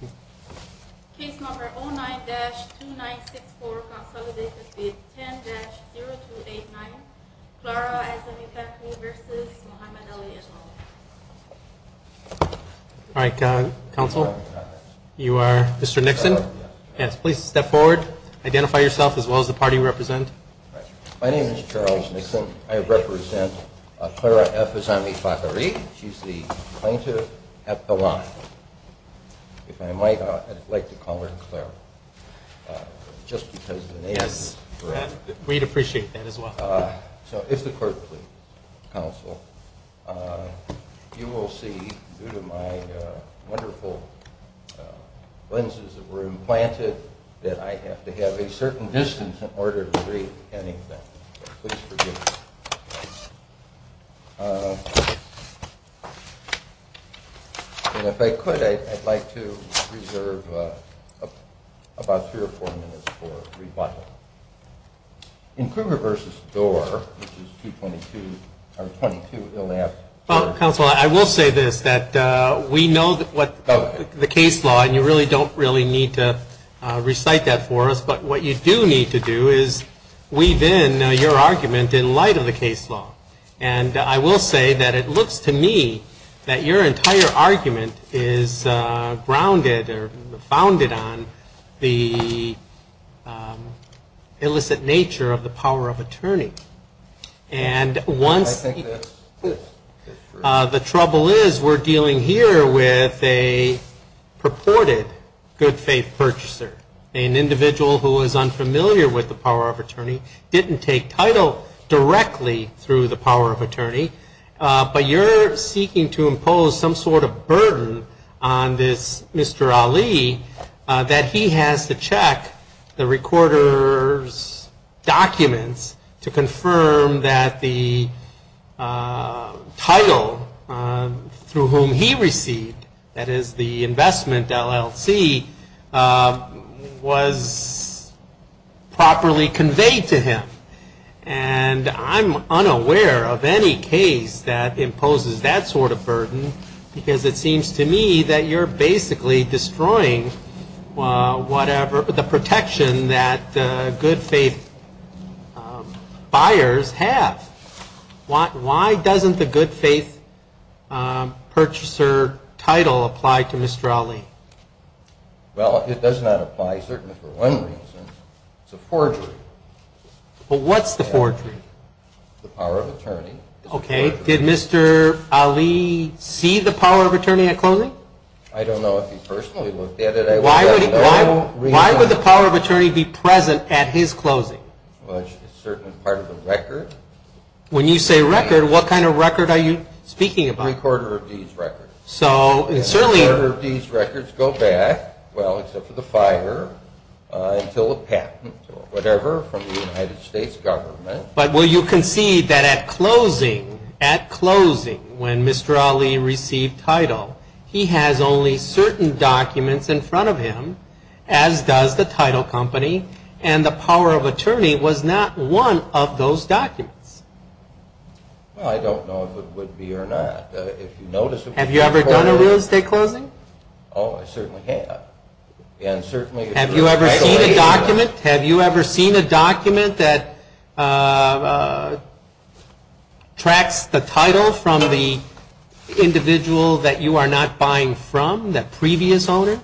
v. Mohamed Ali and all. All right, counsel. You are Mr. Nixon? Yes. Please step forward. Identify yourself as well as the party you represent. My name is Charles Nixon. I represent Clara F. Azamiefakhrie. She's the plaintiff at the line. If I might, I'd like to call her Clara, just because the name is correct. Yes, we'd appreciate that as well. So if the court please, counsel, you will see, due to my wonderful lenses that were implanted, that I have to have a certain distance in order to read anything. Please forgive me. And if I could, I'd like to reserve about three or four minutes for rebuttal. In Kruger v. Storer, which is 222. Well, counsel, I will say this, that we know the case law, and you really don't need to recite that for us. But what you do need to do is weave in your argument in light of the case law. And I will say that it looks to me that your entire argument is grounded or founded on the illicit nature of the power of attorney. And once the trouble is, we're dealing here with a purported good faith purchaser, an individual who is unfamiliar with the power of attorney, didn't take title directly through the power of attorney. But you're seeking to impose some sort of burden on this Mr. Ali that he has to check the recorder's documents to confirm that the title through whom he received, that is the investment LLC, was properly conveyed to him. And I'm unaware of any case that imposes that sort of burden, because it seems to me that you're basically destroying whatever, the protection that good faith buyers have. Why doesn't the good faith purchaser title apply to Mr. Ali? Well, it does not apply, certainly for one reason. It's a forgery. But what's the forgery? The power of attorney. Okay. Did Mr. Ali see the power of attorney at closing? I don't know if he personally looked at it. Why would the power of attorney be present at his closing? Well, it's certainly part of the record. When you say record, what kind of record are you speaking about? The recorder of deeds record. And the recorder of deeds records go back, well except for the fire, until a patent or whatever from the United States government. But will you concede that at closing, at closing, when Mr. Ali received title, he has only certain documents in front of him, as does the title company, and the power of attorney was not one of those documents? Well, I don't know if it would be or not. If you notice... Have you ever done a real estate closing? Oh, I certainly have. Have you ever seen a document, have you ever seen a document that tracks the title from the individual that you are not buying from, the previous owner,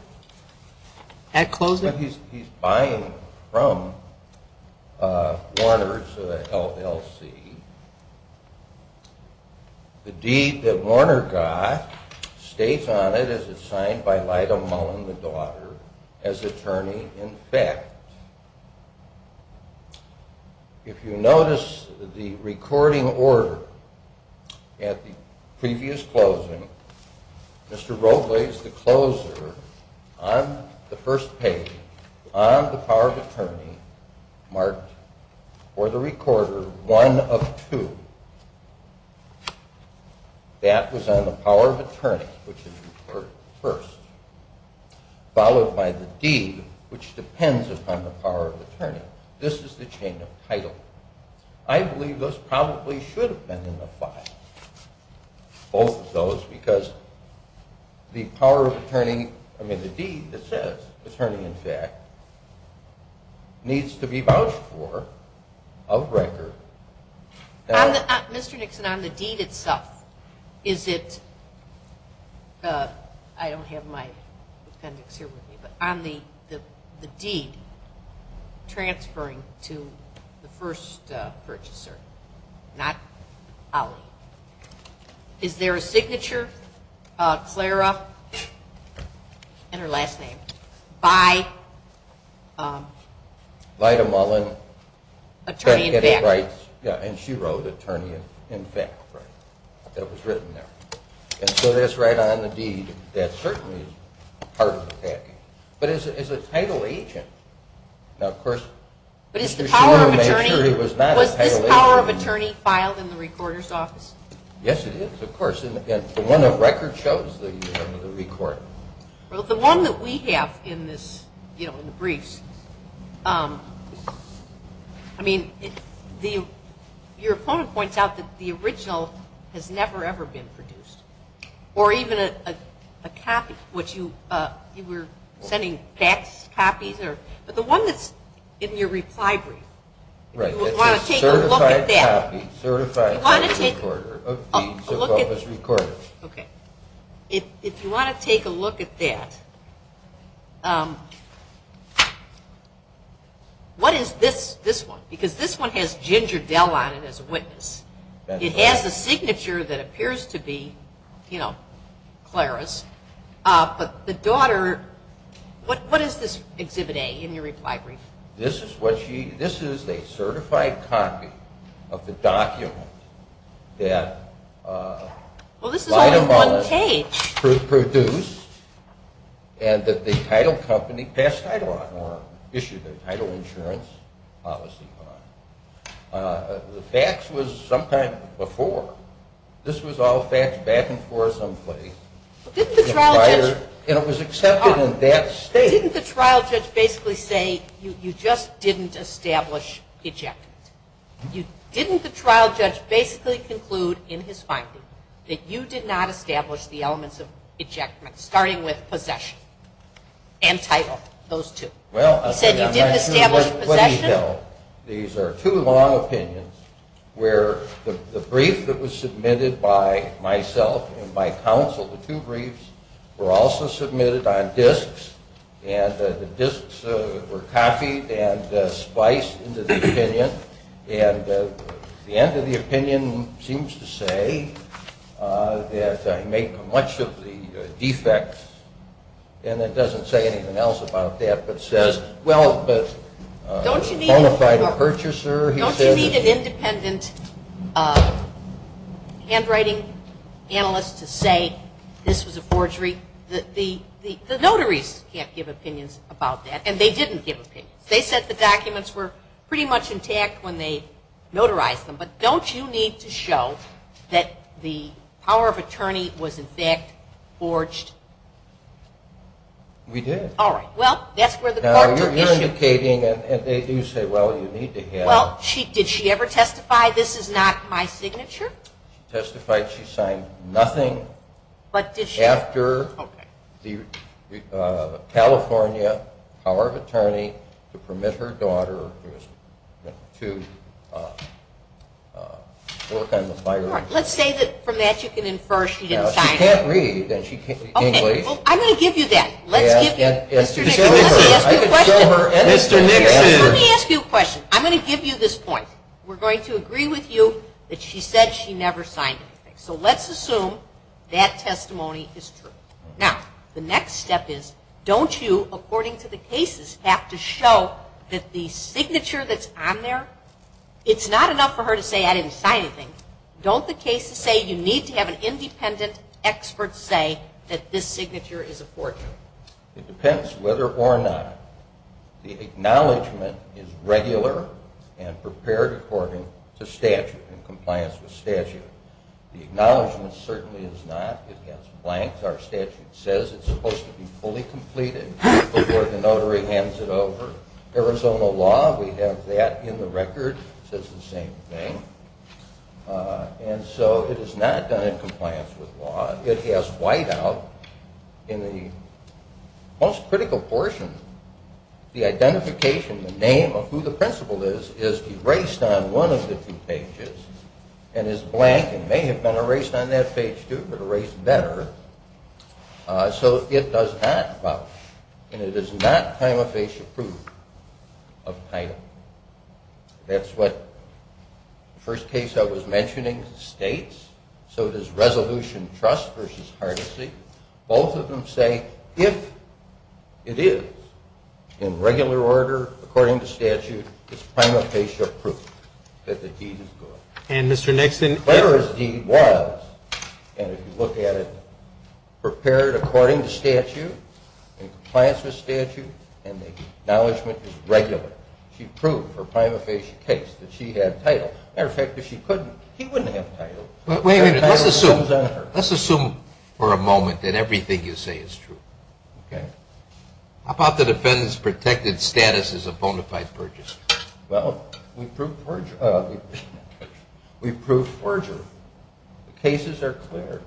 at closing? He's buying from Warner's LLC. The deed that Warner got states on it, as it's signed by Lyda Mullen, the daughter, as attorney in fact. If you notice the recording order at the previous closing, Mr. Robles, the closer, on the first page, on the power of attorney, marked for the recorder, one of two. That was on the power of attorney, which is the first. Followed by the deed, which depends upon the power of attorney. This is the chain of title. I believe this probably should have been in the file. Both of those, because the power of attorney, I mean the deed that says attorney in fact, needs to be vouched for, of record. Mr. Nixon, on the deed itself, is it... I don't have my appendix here with me, but on the deed, transferring to the first purchaser, not Ali, is there a signature, Clara, and her last name, by... Lyda Mullen. Attorney in fact. Yeah, and she wrote attorney in fact, that was written there. And so that's right on the deed. That certainly is part of the packing. But as a title agent, now of course... But is the power of attorney... Was this power of attorney filed in the recorder's office? Yes, it is, of course. And the one of record shows the record. Well, the one that we have in this, you know, in the briefs, I mean, your opponent points out that the original has never, ever been produced. Or even a copy, which you were sending back copies, but the one that's in your reply brief, if you want to take a look at that... Right, that's a certified copy, certified copy of the recorder. If you want to take a look at that, what is this one? Because this one has Ginger Dell on it as a witness. It has a signature that appears to be, you know, Clara's. But the daughter... What is this Exhibit A in your reply brief? This is a certified copy of the document that... Well, this is only one page. ...produced, and that the title company passed title on, or issued a title insurance policy on. The facts was sometime before. This was all facts back and forth someplace. Didn't the trial judge... And it was accepted in that state. Didn't the trial judge basically say, you just didn't establish ejectment? Didn't the trial judge basically conclude in his finding that you did not establish the elements of ejectment, starting with possession and title, those two? He said you didn't establish possession. These are two long opinions, where the brief that was submitted by myself and my counsel, the two briefs, were also submitted on disks, and the disks were copied and spliced into the opinion. And the end of the opinion seems to say that he made much of the defects, and it doesn't say anything else about that, but says, well, but... Don't you need an independent handwriting analyst to say this was a forgery? The notaries can't give opinions about that, and they didn't give opinions. They said the documents were pretty much intact when they notarized them, but don't you need to show that the power of attorney was in fact forged? We did. All right. Well, that's where the court took issue. Now, you're indicating, and they do say, well, you need to have... Well, did she ever testify this is not my signature? She testified she signed nothing... But did she... Okay. All right, let's say that from that you can infer she didn't sign anything. She can't read, and she can't read English. I'm going to give you that. Let's give you... Mr. Nixon, let me ask you a question. I'm going to give you this point. We're going to agree with you that she said she never signed anything. So let's assume that testimony is true. Now, the next step is, don't you, according to the cases, have to show that the signature that's on there, it's not enough for her to say, I didn't sign anything. Don't the cases say you need to have an independent expert say that this signature is a forgery? It depends whether or not the acknowledgement is regular and prepared according to statute in compliance with statute. The acknowledgement certainly is not. It has blanks. Our statute says it's supposed to be fully completed before the notary hands it over. Arizona law, we have that in the record. It says the same thing. And so it is not done in compliance with law. It has whiteout. In the most critical portion, the identification, the name of who the principal is, is erased on one of the two pages and is blank and may have been erased on that page too but erased better. So it does not vouch. And it is not prima facie proof of title. That's what the first case I was mentioning states. So it is resolution trust versus hardesty. Both of them say, if it is in regular order according to statute, it's prima facie proof that the deed is good. And Mr. Nixon? Clara's deed was, and if you look at it, prepared according to statute in compliance with statute and the acknowledgement is regular. She proved for prima facie case that she had title. Matter of fact, if she couldn't, he wouldn't have title. Wait a minute. Let's assume for a moment that everything you say is true. Okay. How about the defendant's protected status as a bona fide purchaser? Well, we proved forgery. The cases are clear.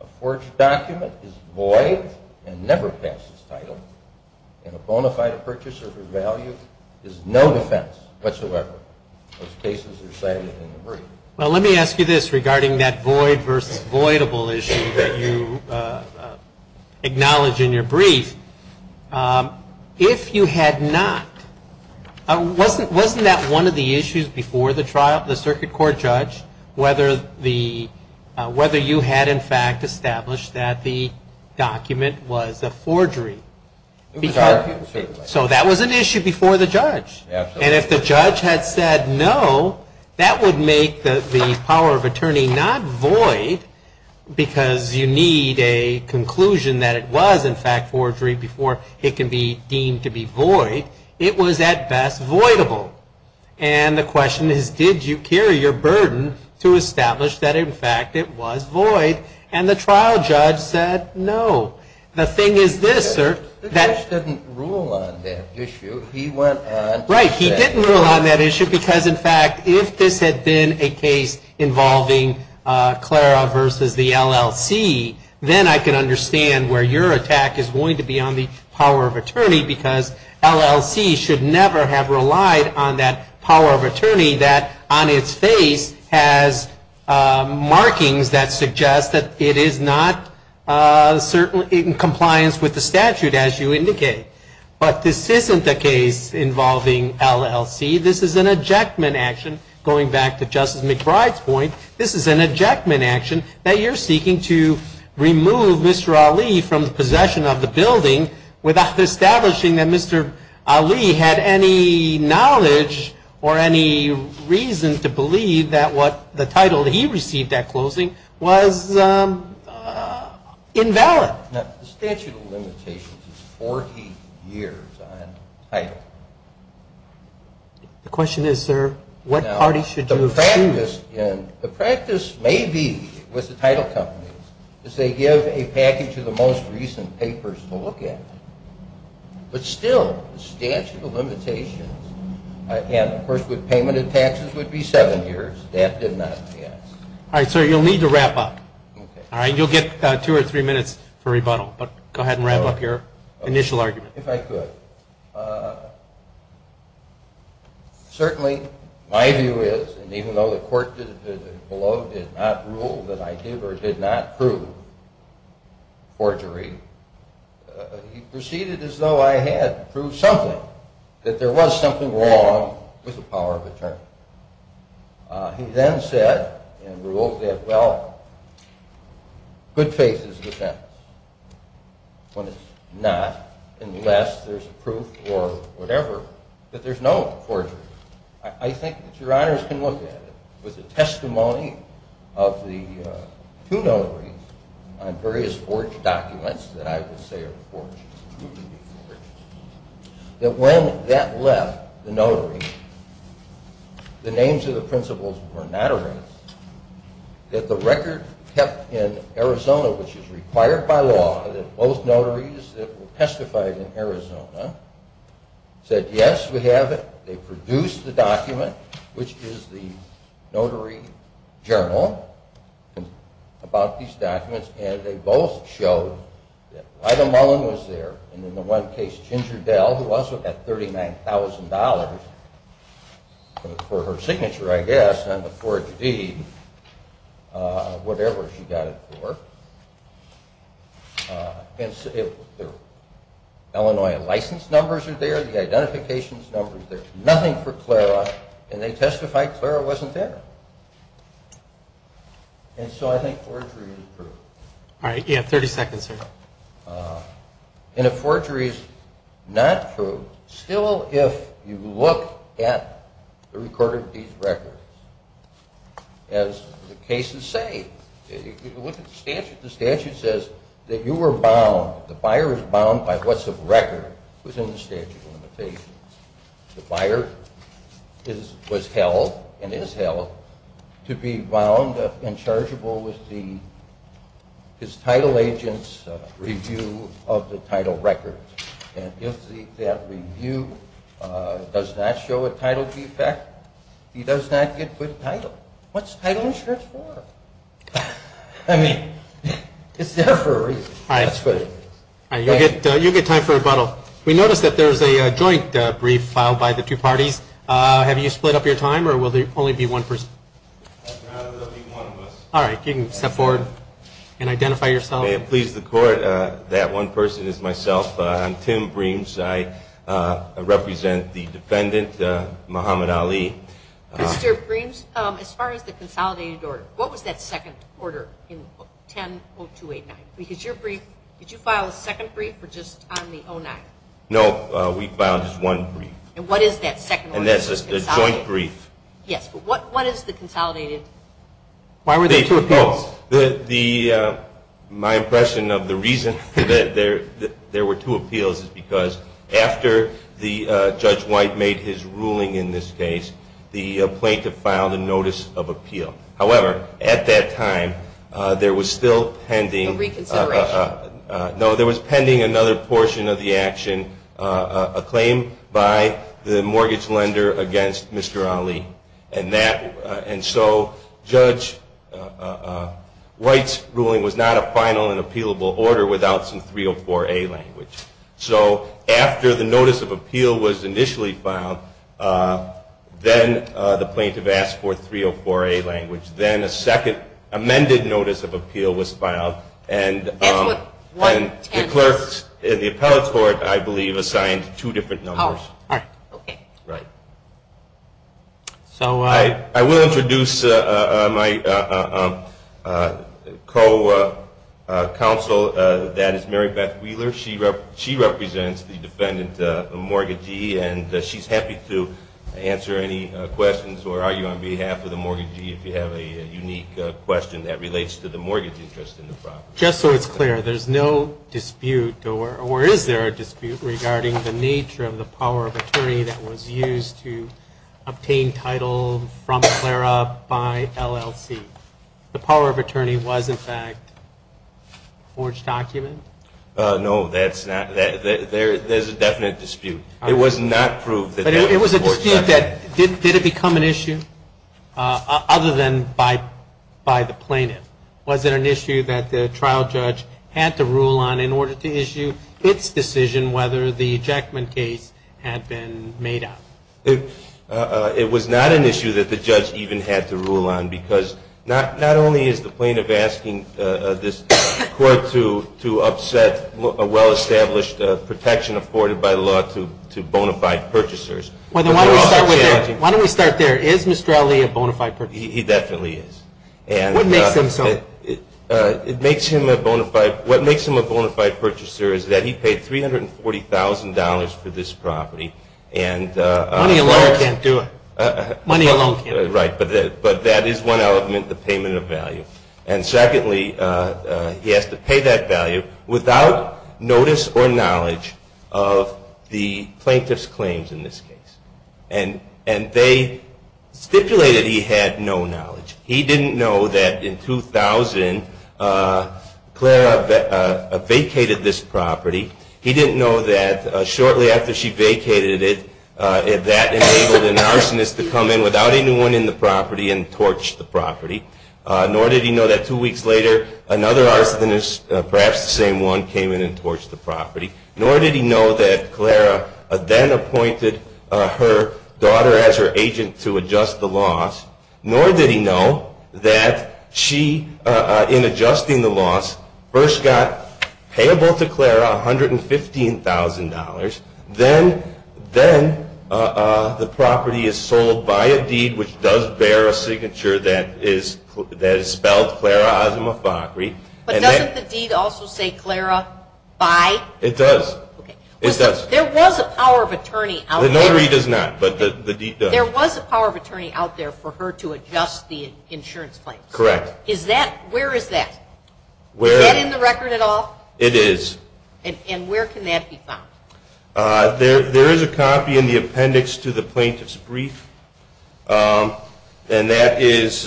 A forged document is void and never passes title. And a bona fide purchaser for value is no defense whatsoever. Those cases are cited in the brief. Well, let me ask you this regarding that void versus voidable issue that you acknowledge in your brief. If you had not, wasn't that one of the issues before the circuit court judge whether you had in fact established that the document was a forgery? So that was an issue before the judge. And if the judge had said no, that would make the power of attorney not void because you need a conclusion that it was in fact forgery before it can be deemed to be void. It was at best voidable. And the question is did you carry your burden to establish that in fact it was void? And the trial judge said no. The thing is this, sir. The judge didn't rule on that issue. He went on to say no. Right, he didn't rule on that issue because in fact if this had been a case involving Clara versus the LLC then I can understand where your attack is going to be on the power of attorney because LLC should never have relied on that power of attorney that on its face has markings that suggest that it is not certainly in compliance with the statute as you indicate. But this isn't the case involving LLC. This is an ejectment action going back to Justice McBride's point. This is an ejectment action that you're seeking to remove Mr. Ali from the possession of the building without establishing that Mr. Ali had any knowledge or any reason to believe that what the title that he received at closing was invalid. The statute of limitations is 40 years on title. The question is, sir, what party should you choose? The practice may be with the title companies is they give a package of the most recent papers to look at. But still, the statute of limitations and of course the payment of taxes would be seven years. That did not pass. Alright, sir, you'll need to wrap up. Alright, you'll get two or three minutes for rebuttal. But go ahead and wrap up your initial argument. If I could. Certainly, my view is and even though the court below did not rule that I did or did not prove forgery, he proceeded as though I had proved something. That there was something wrong with the power of attorney. He then said and ruled that, well, good faith is a defense when it's not unless there's proof or whatever that there's no forgery. I think that your honors can look at it with the testimony of the two notaries on various forged documents that I would say are forged. That when that left the notary the names of the principals were not erased. That the record kept in Arizona which is required by law that both notaries that testified in Arizona said, yes, we have it. They produced the document which is the notary journal about these documents and they both showed that Ryda Mullen was there and in the one case, Ginger Dell who also had $39,000 for her signature, I guess on the forged deed whatever she got it for Illinois license numbers are there, the identification numbers there's nothing for Clara and they testified Clara wasn't there. And so I think forgery is proof. Alright, you have 30 seconds, sir. And if forgery is not proof, still if you look at the recorded deed records as the cases say the statute says that you were bound, the buyer is bound by what's a record within the statute of limitations. The buyer was held and is held to be bound and chargeable with the his title agent's review of the title record. And if that review does not show a title defect he does not get good title. What's title insurance for? I mean it's there for a reason. You'll get time for rebuttal. We noticed that there's a joint brief filed by the two parties. Have you split up your time or will there only be one person? There will be one of us. Alright, you can step forward and identify yourself. If I may please the court, that one person is myself. I'm Tim Breams. I represent the defendant, Muhammad Ali. Mr. Breams, as far as the consolidated order, what was that second order in 10-0289? Because your brief, did you file a second brief or just on the 0-9? No, we filed just one brief. And what is that second brief? It's a joint brief. What is the consolidated? Why were there two appeals? My impression of the reason that there were two appeals is because after Judge White made his ruling in this case the plaintiff filed a notice of appeal. However, at that time there was still pending a reconsideration. No, there was pending another portion of the ruling by the mortgage lender against Mr. Ali. And so, Judge White's ruling was not a final and appealable order without some 304A language. So, after the notice of appeal was initially filed then the plaintiff asked for 304A language. Then a second amended notice of appeal was filed and the clerks in the appellate court I believe assigned two different numbers. Right. I will introduce my co-counsel that is Mary Beth Wheeler. She represents the defendant mortgagee and she's happy to answer any questions or argue on behalf of the mortgagee if you have a unique question that relates to the mortgage interest in the property. Just so it's clear, there's no dispute or is there a dispute regarding the nature of the power of attorney that was used to obtain title from Clara by LLC? The power of attorney was in fact a forged document? No, that's not. There's a definite dispute. It was not proved. Did it become an issue other than by the plaintiff? Was it an issue that the trial judge had to rule on in order to issue its decision whether the ejectment case had been made up? It was not an issue that the judge even had to rule on because not only is the plaintiff asking this court to upset a well-established protection afforded by law to bona fide purchasers. Why don't we start there? Is Mr. Allee a bona fide purchaser? He definitely is. What makes him so? It makes him a bona fide purchaser is that he paid $340,000 for this property. Money alone can't do it. Right, but that is one element, the payment of value. And secondly, he has to pay that value without notice or knowledge of the plaintiff's claims in this case. And they stipulated that he had no knowledge. He didn't know that in 2000 Clara vacated this property. He didn't know that shortly after she vacated it that enabled an arsonist to come in without anyone in the property and torch the property. Nor did he know that two weeks later another arsonist, perhaps the same one, came in and torched the property. Nor did he know that Clara then appointed her daughter as her agent to adjust the loss. Nor did he know that she in adjusting the loss first got payable to Clara $115,000. Then the property is sold by a deed which does bear a signature that is spelled Clara Osimofakri. But doesn't the deed also say Clara by? It does. There was a power of attorney out there. The notary does not. There was a power of attorney out there for her to adjust the insurance claims. Correct. Where is that? Is that in the record at all? It is. And where can that be found? There is a copy in the appendix to the plaintiff's brief. And that is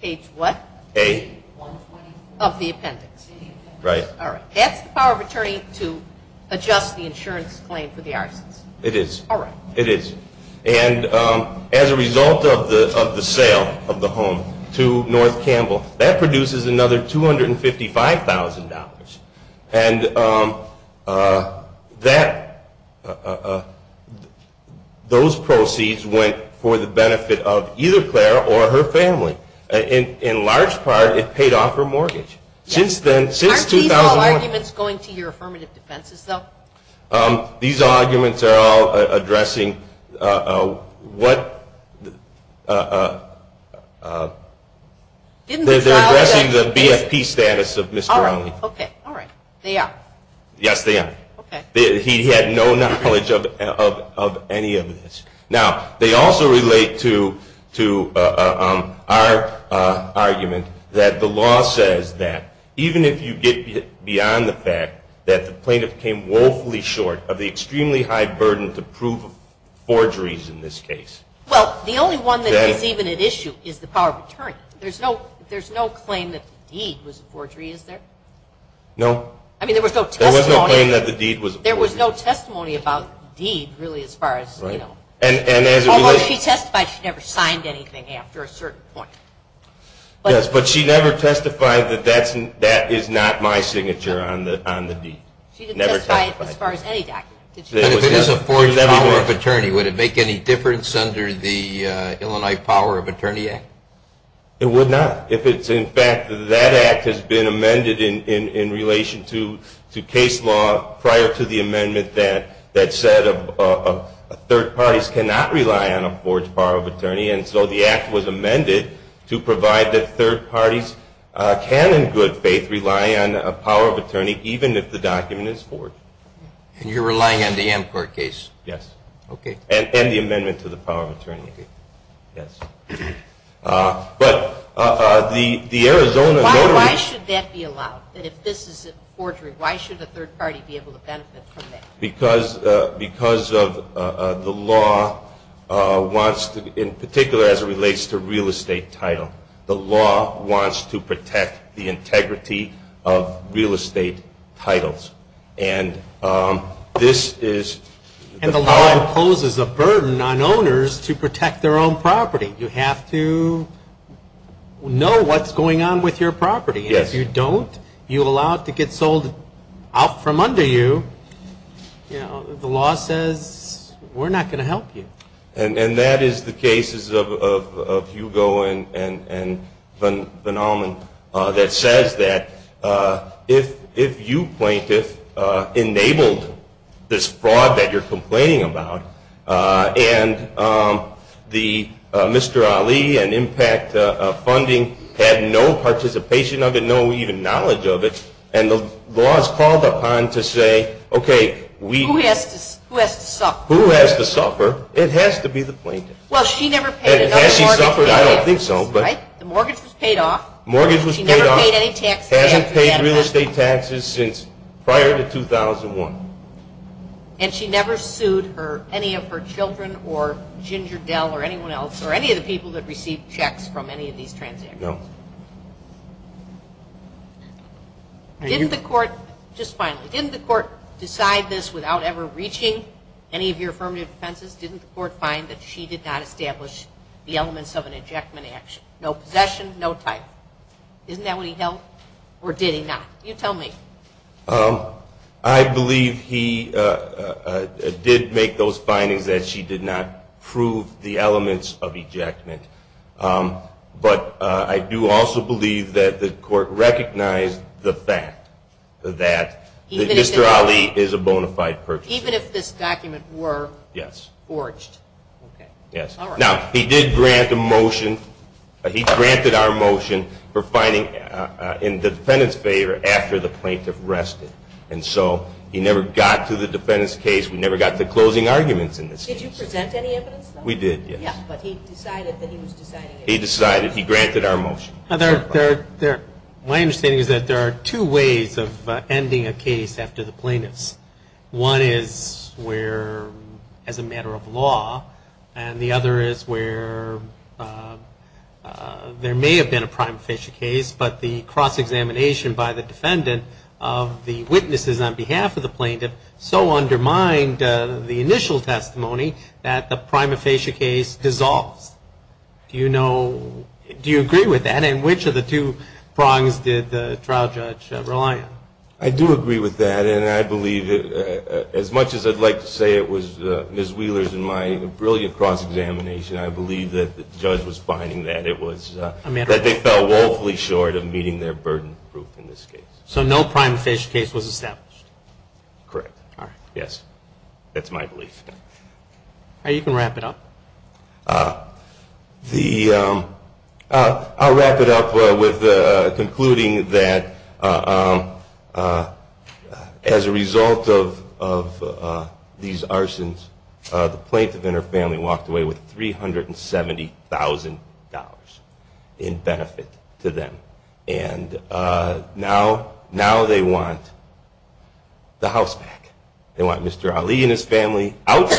Page what? A. Of the appendix. Right. That's the power of attorney to adjust the insurance claim for the Arsons. It is. And as a result of the sale of the home to North Campbell, that produces another $255,000. Those proceeds went for the benefit of either Clara or her family. In large part, it paid off her mortgage. Since 2001. Aren't these all arguments going to your affirmative defenses though? These arguments are all addressing what They're addressing the BFP status of Mr. Alley. Okay. They are. Yes, they are. He had no knowledge of any of this. Now, they also relate to our argument that the law says that even if you get beyond the fact that the plaintiff came woefully short of the extremely high burden to prove forgeries in this case. Well, the only one that is even at issue is the power of attorney. There's no claim that the deed was a forgery, is there? No. I mean, there was no testimony. There was no claim that the deed was a forgery. There was no testimony about the deed, really, as far as, you know. Although she testified she never signed anything after a certain point. Yes, but she never testified that that is not my signature on the deed. She didn't testify as far as any document. If it is a forged power of attorney, would it make any difference under the Illinois Power of Attorney Act? It would not. If it's, in fact, that act has been amended in relation to case law prior to the amendment that said third parties cannot rely on a forged power of attorney, and so the act was amended to provide that third parties can, in good faith, rely on a power of attorney, even if the document is forged. And you're relying on the Amcorp case? Yes. And the amendment to the power of attorney case. But the Arizona... Why should that be allowed? If this is a forgery, why should the third party be able to benefit from it? Because of the law wants to, in particular as it relates to real estate title, the law wants to protect the integrity of real estate titles. And this is... And the law imposes a burden on owners to protect their own property. You have to know what's going on with your property. And if you don't, you allow it to get sold out from under you, the law says we're not going to help you. And that is the cases of Hugo and Van Allman that says that if you plaintiff enabled this fraud that you're complaining about, and Mr. Ali and Impact Funding had no participation of it, no even knowledge of it, and the law is called upon to say, okay, we... Who has to suffer? Who has to suffer? It has to be the plaintiff. Well, she never paid... I don't think so, but... The mortgage was paid off. Mortgage was paid off. She never paid any taxes. Hasn't paid real estate taxes since prior to 2001. And she never sued any of her children or Ginger Dell or anyone else or any of the people that received checks from any of these transactions. No. Didn't the court... Just finally, didn't the court decide this without ever reaching any of your affirmative defenses? Didn't the court find that she did not establish the elements of an ejectment action? No possession, no title. Isn't that what he held? Or did he not? You tell me. I believe he did make those findings that she did not prove the elements of ejectment. But I do also believe that the court recognized the fact that Mr. Ali is a bona fide purchaser. Even if this document were forged? Yes. Now, he did grant a motion. He granted our motion for finding in the defendant's favor after the plaintiff rested. And so, he never got to the defendant's case. We never got to closing arguments in this case. Did you present any evidence, though? We did, yes. But he decided that he was deciding it. He decided. He granted our motion. My understanding is that there are two ways of ending a case after the plaintiff's. One is where as a matter of law, and the other is where there may have been a prima facie case, but the cross-examination by the defendant of the witnesses on behalf of the plaintiff so undermined the initial testimony that the prima facie case dissolves. Do you know, do you agree with that, and which of the two prongs did the trial judge rely on? I do agree with that, and I believe as much as I'd like to say it was Ms. Wheeler's and my brilliant cross-examination, I believe that the judge was finding that it was that they fell woefully short of meeting their burden of proof in this case. So no prima facie case was established? Correct. That's my belief. You can wrap it up. I'll wrap it up with concluding that as a result of these arsons, the plaintiff and her family walked away with $370,000 in benefit to them, and now they want the house back. They want Mr. Ali and his family out.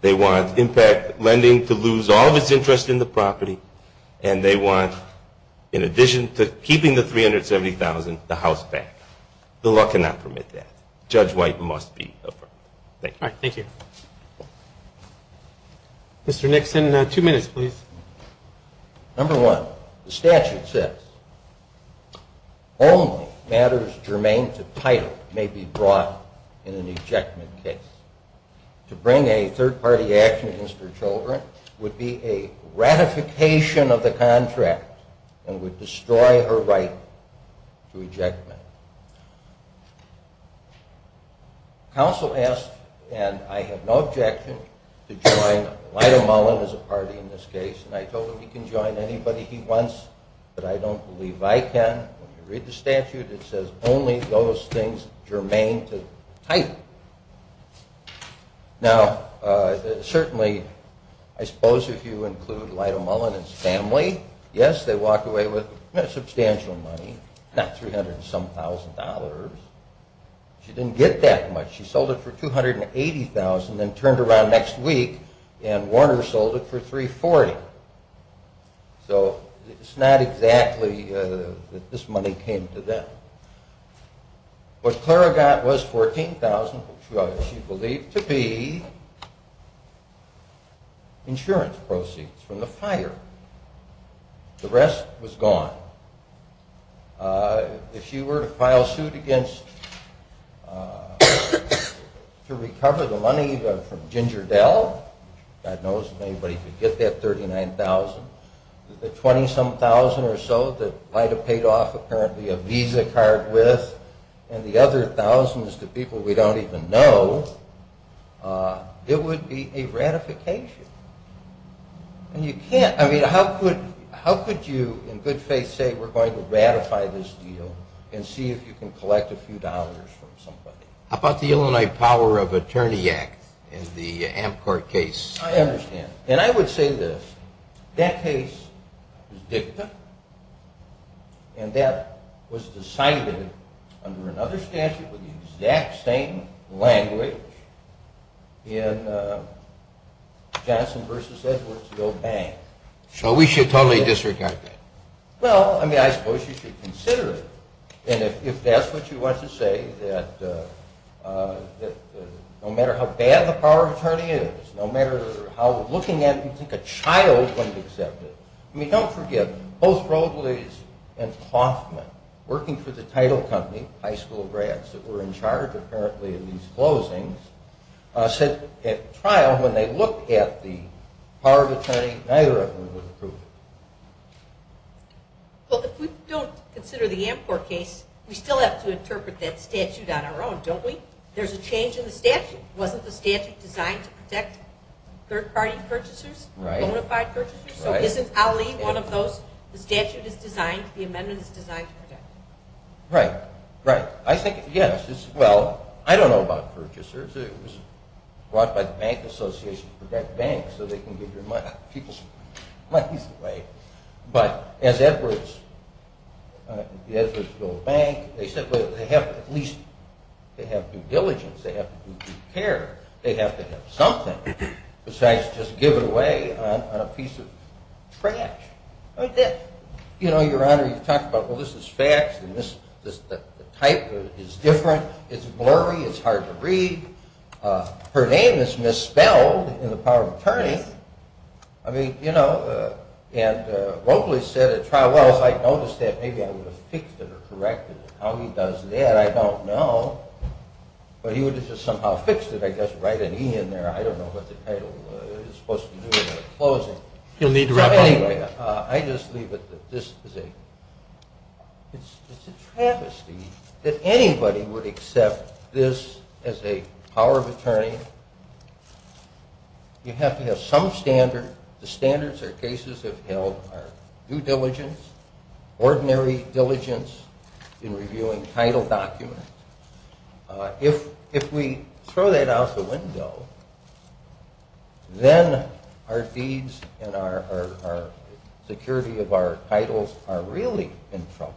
They want impact lending to lose all of its interest in the property, and they want in addition to keeping the $370,000, the house back. The law cannot permit that. Judge White must be over. Thank you. Mr. Nixon, two minutes, please. Number one, the statute says only matters germane to title may be brought in an ejectment case. To bring a third-party action against her children would be a ratification of the contract and would destroy her right to ejectment. Counsel asked, and I have no objection to join Lyda Mullen as a party in this case, and I told him he can join anybody he wants, but I don't believe I can. When you read the statute, it says only those things germane to title. Now, certainly, I suppose if you include Lyda Mullen and his family, yes, they walk away with substantial money, not $300 some thousand dollars. She didn't get that much. and turned around next week and Warner sold it for $340,000. So it's not exactly that this money came to them. What Clara got was $14,000, which she believed to be insurance proceeds from the fire. The rest was gone. If she were to file suit against to recover the money from Ginger Dell, God knows if anybody could get that $39,000, the $20,000 or so that Lyda paid off apparently a Visa card with, and the other thousands to people we don't even know, it would be a ratification. How could you in good faith say we're going to ratify this deal and see if you can collect a few dollars from somebody? How about the Illinois Power of Attorney Act in the Amcorp case? I understand. And I would say this. That case was dicta and that was decided under another statute with the exact same language in Johnson v. Edwards, the old bank. So we should totally disregard that. Well, I mean, I suppose you should consider it. And if that's what you want to say, that no matter how bad the power of attorney is, no matter how looking at it, you'd think a child wouldn't accept it. I mean, don't forget both Broglies and Klaufman working for the title company, high school grads that were in charge apparently of these closings said at trial when they looked at the power of attorney, neither of them would approve it. Well, if we don't consider the Amcorp case, we still have to interpret that statute on our own, don't we? There's a change in the statute. Wasn't the statute designed to protect third-party purchasers? Bonafide purchasers? So isn't Ali one of those? The statute is designed, the amendment is designed to protect. Right. Right. I think, yes. Well, I don't know about purchasers. It was brought by the Bank Association to protect banks so they can give people's monies away. But as Edwards said, they have to at least have due diligence, they have to do due care, they have to have something besides just give it away on a piece of trash. You know, Your Honor, you talked about this is facts, the type is different, it's blurry, it's hard to read. Her name is misspelled in the power of attorney. I mean, you know, and Robles said at trial I noticed that maybe I would have fixed it or corrected it. How he does that, I don't know, but he would have just somehow fixed it, I guess, write an E in there, I don't know what the title is supposed to do in the closing. You'll need to wrap up. I just leave it that this is a it's a travesty that anybody would accept this as a power of attorney. You have to have some standard, the standards our cases have held are due diligence, ordinary diligence in reviewing title documents. If we throw that out the window, then our deeds and our security of our titles are really in trouble.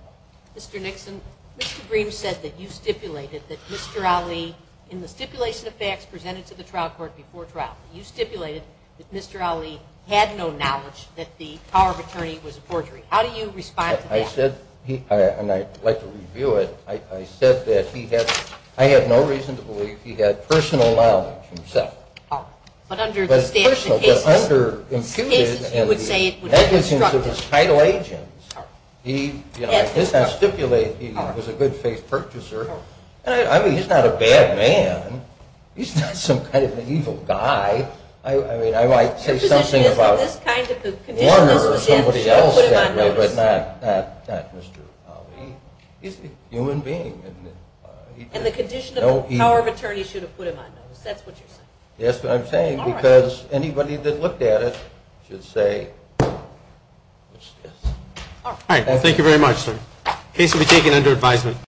Mr. Nixon, Mr. Green said that you stipulated that Mr. Ali, in the stipulation of facts presented to the trial court before trial, you stipulated that Mr. Ali had no knowledge that the power of attorney was a forgery. How do you respond to that? I said, and I'd like to review it, I said that he had, I had no reason to believe he had personal knowledge himself. But under the statute of cases you would say it would be constructive. He, you know, stipulated he was a good-faith purchaser. I mean, he's not a bad man. He's not some kind of an evil guy. I mean, I might say something about Warner or somebody else, but not Mr. Ali. He's a human being. And the condition of the power of attorney should have put him on notice. That's what you're saying. That's what I'm saying, because anybody that looked at it should say yes. All right. Well, thank you very much, sir. Case will be taken under advisement.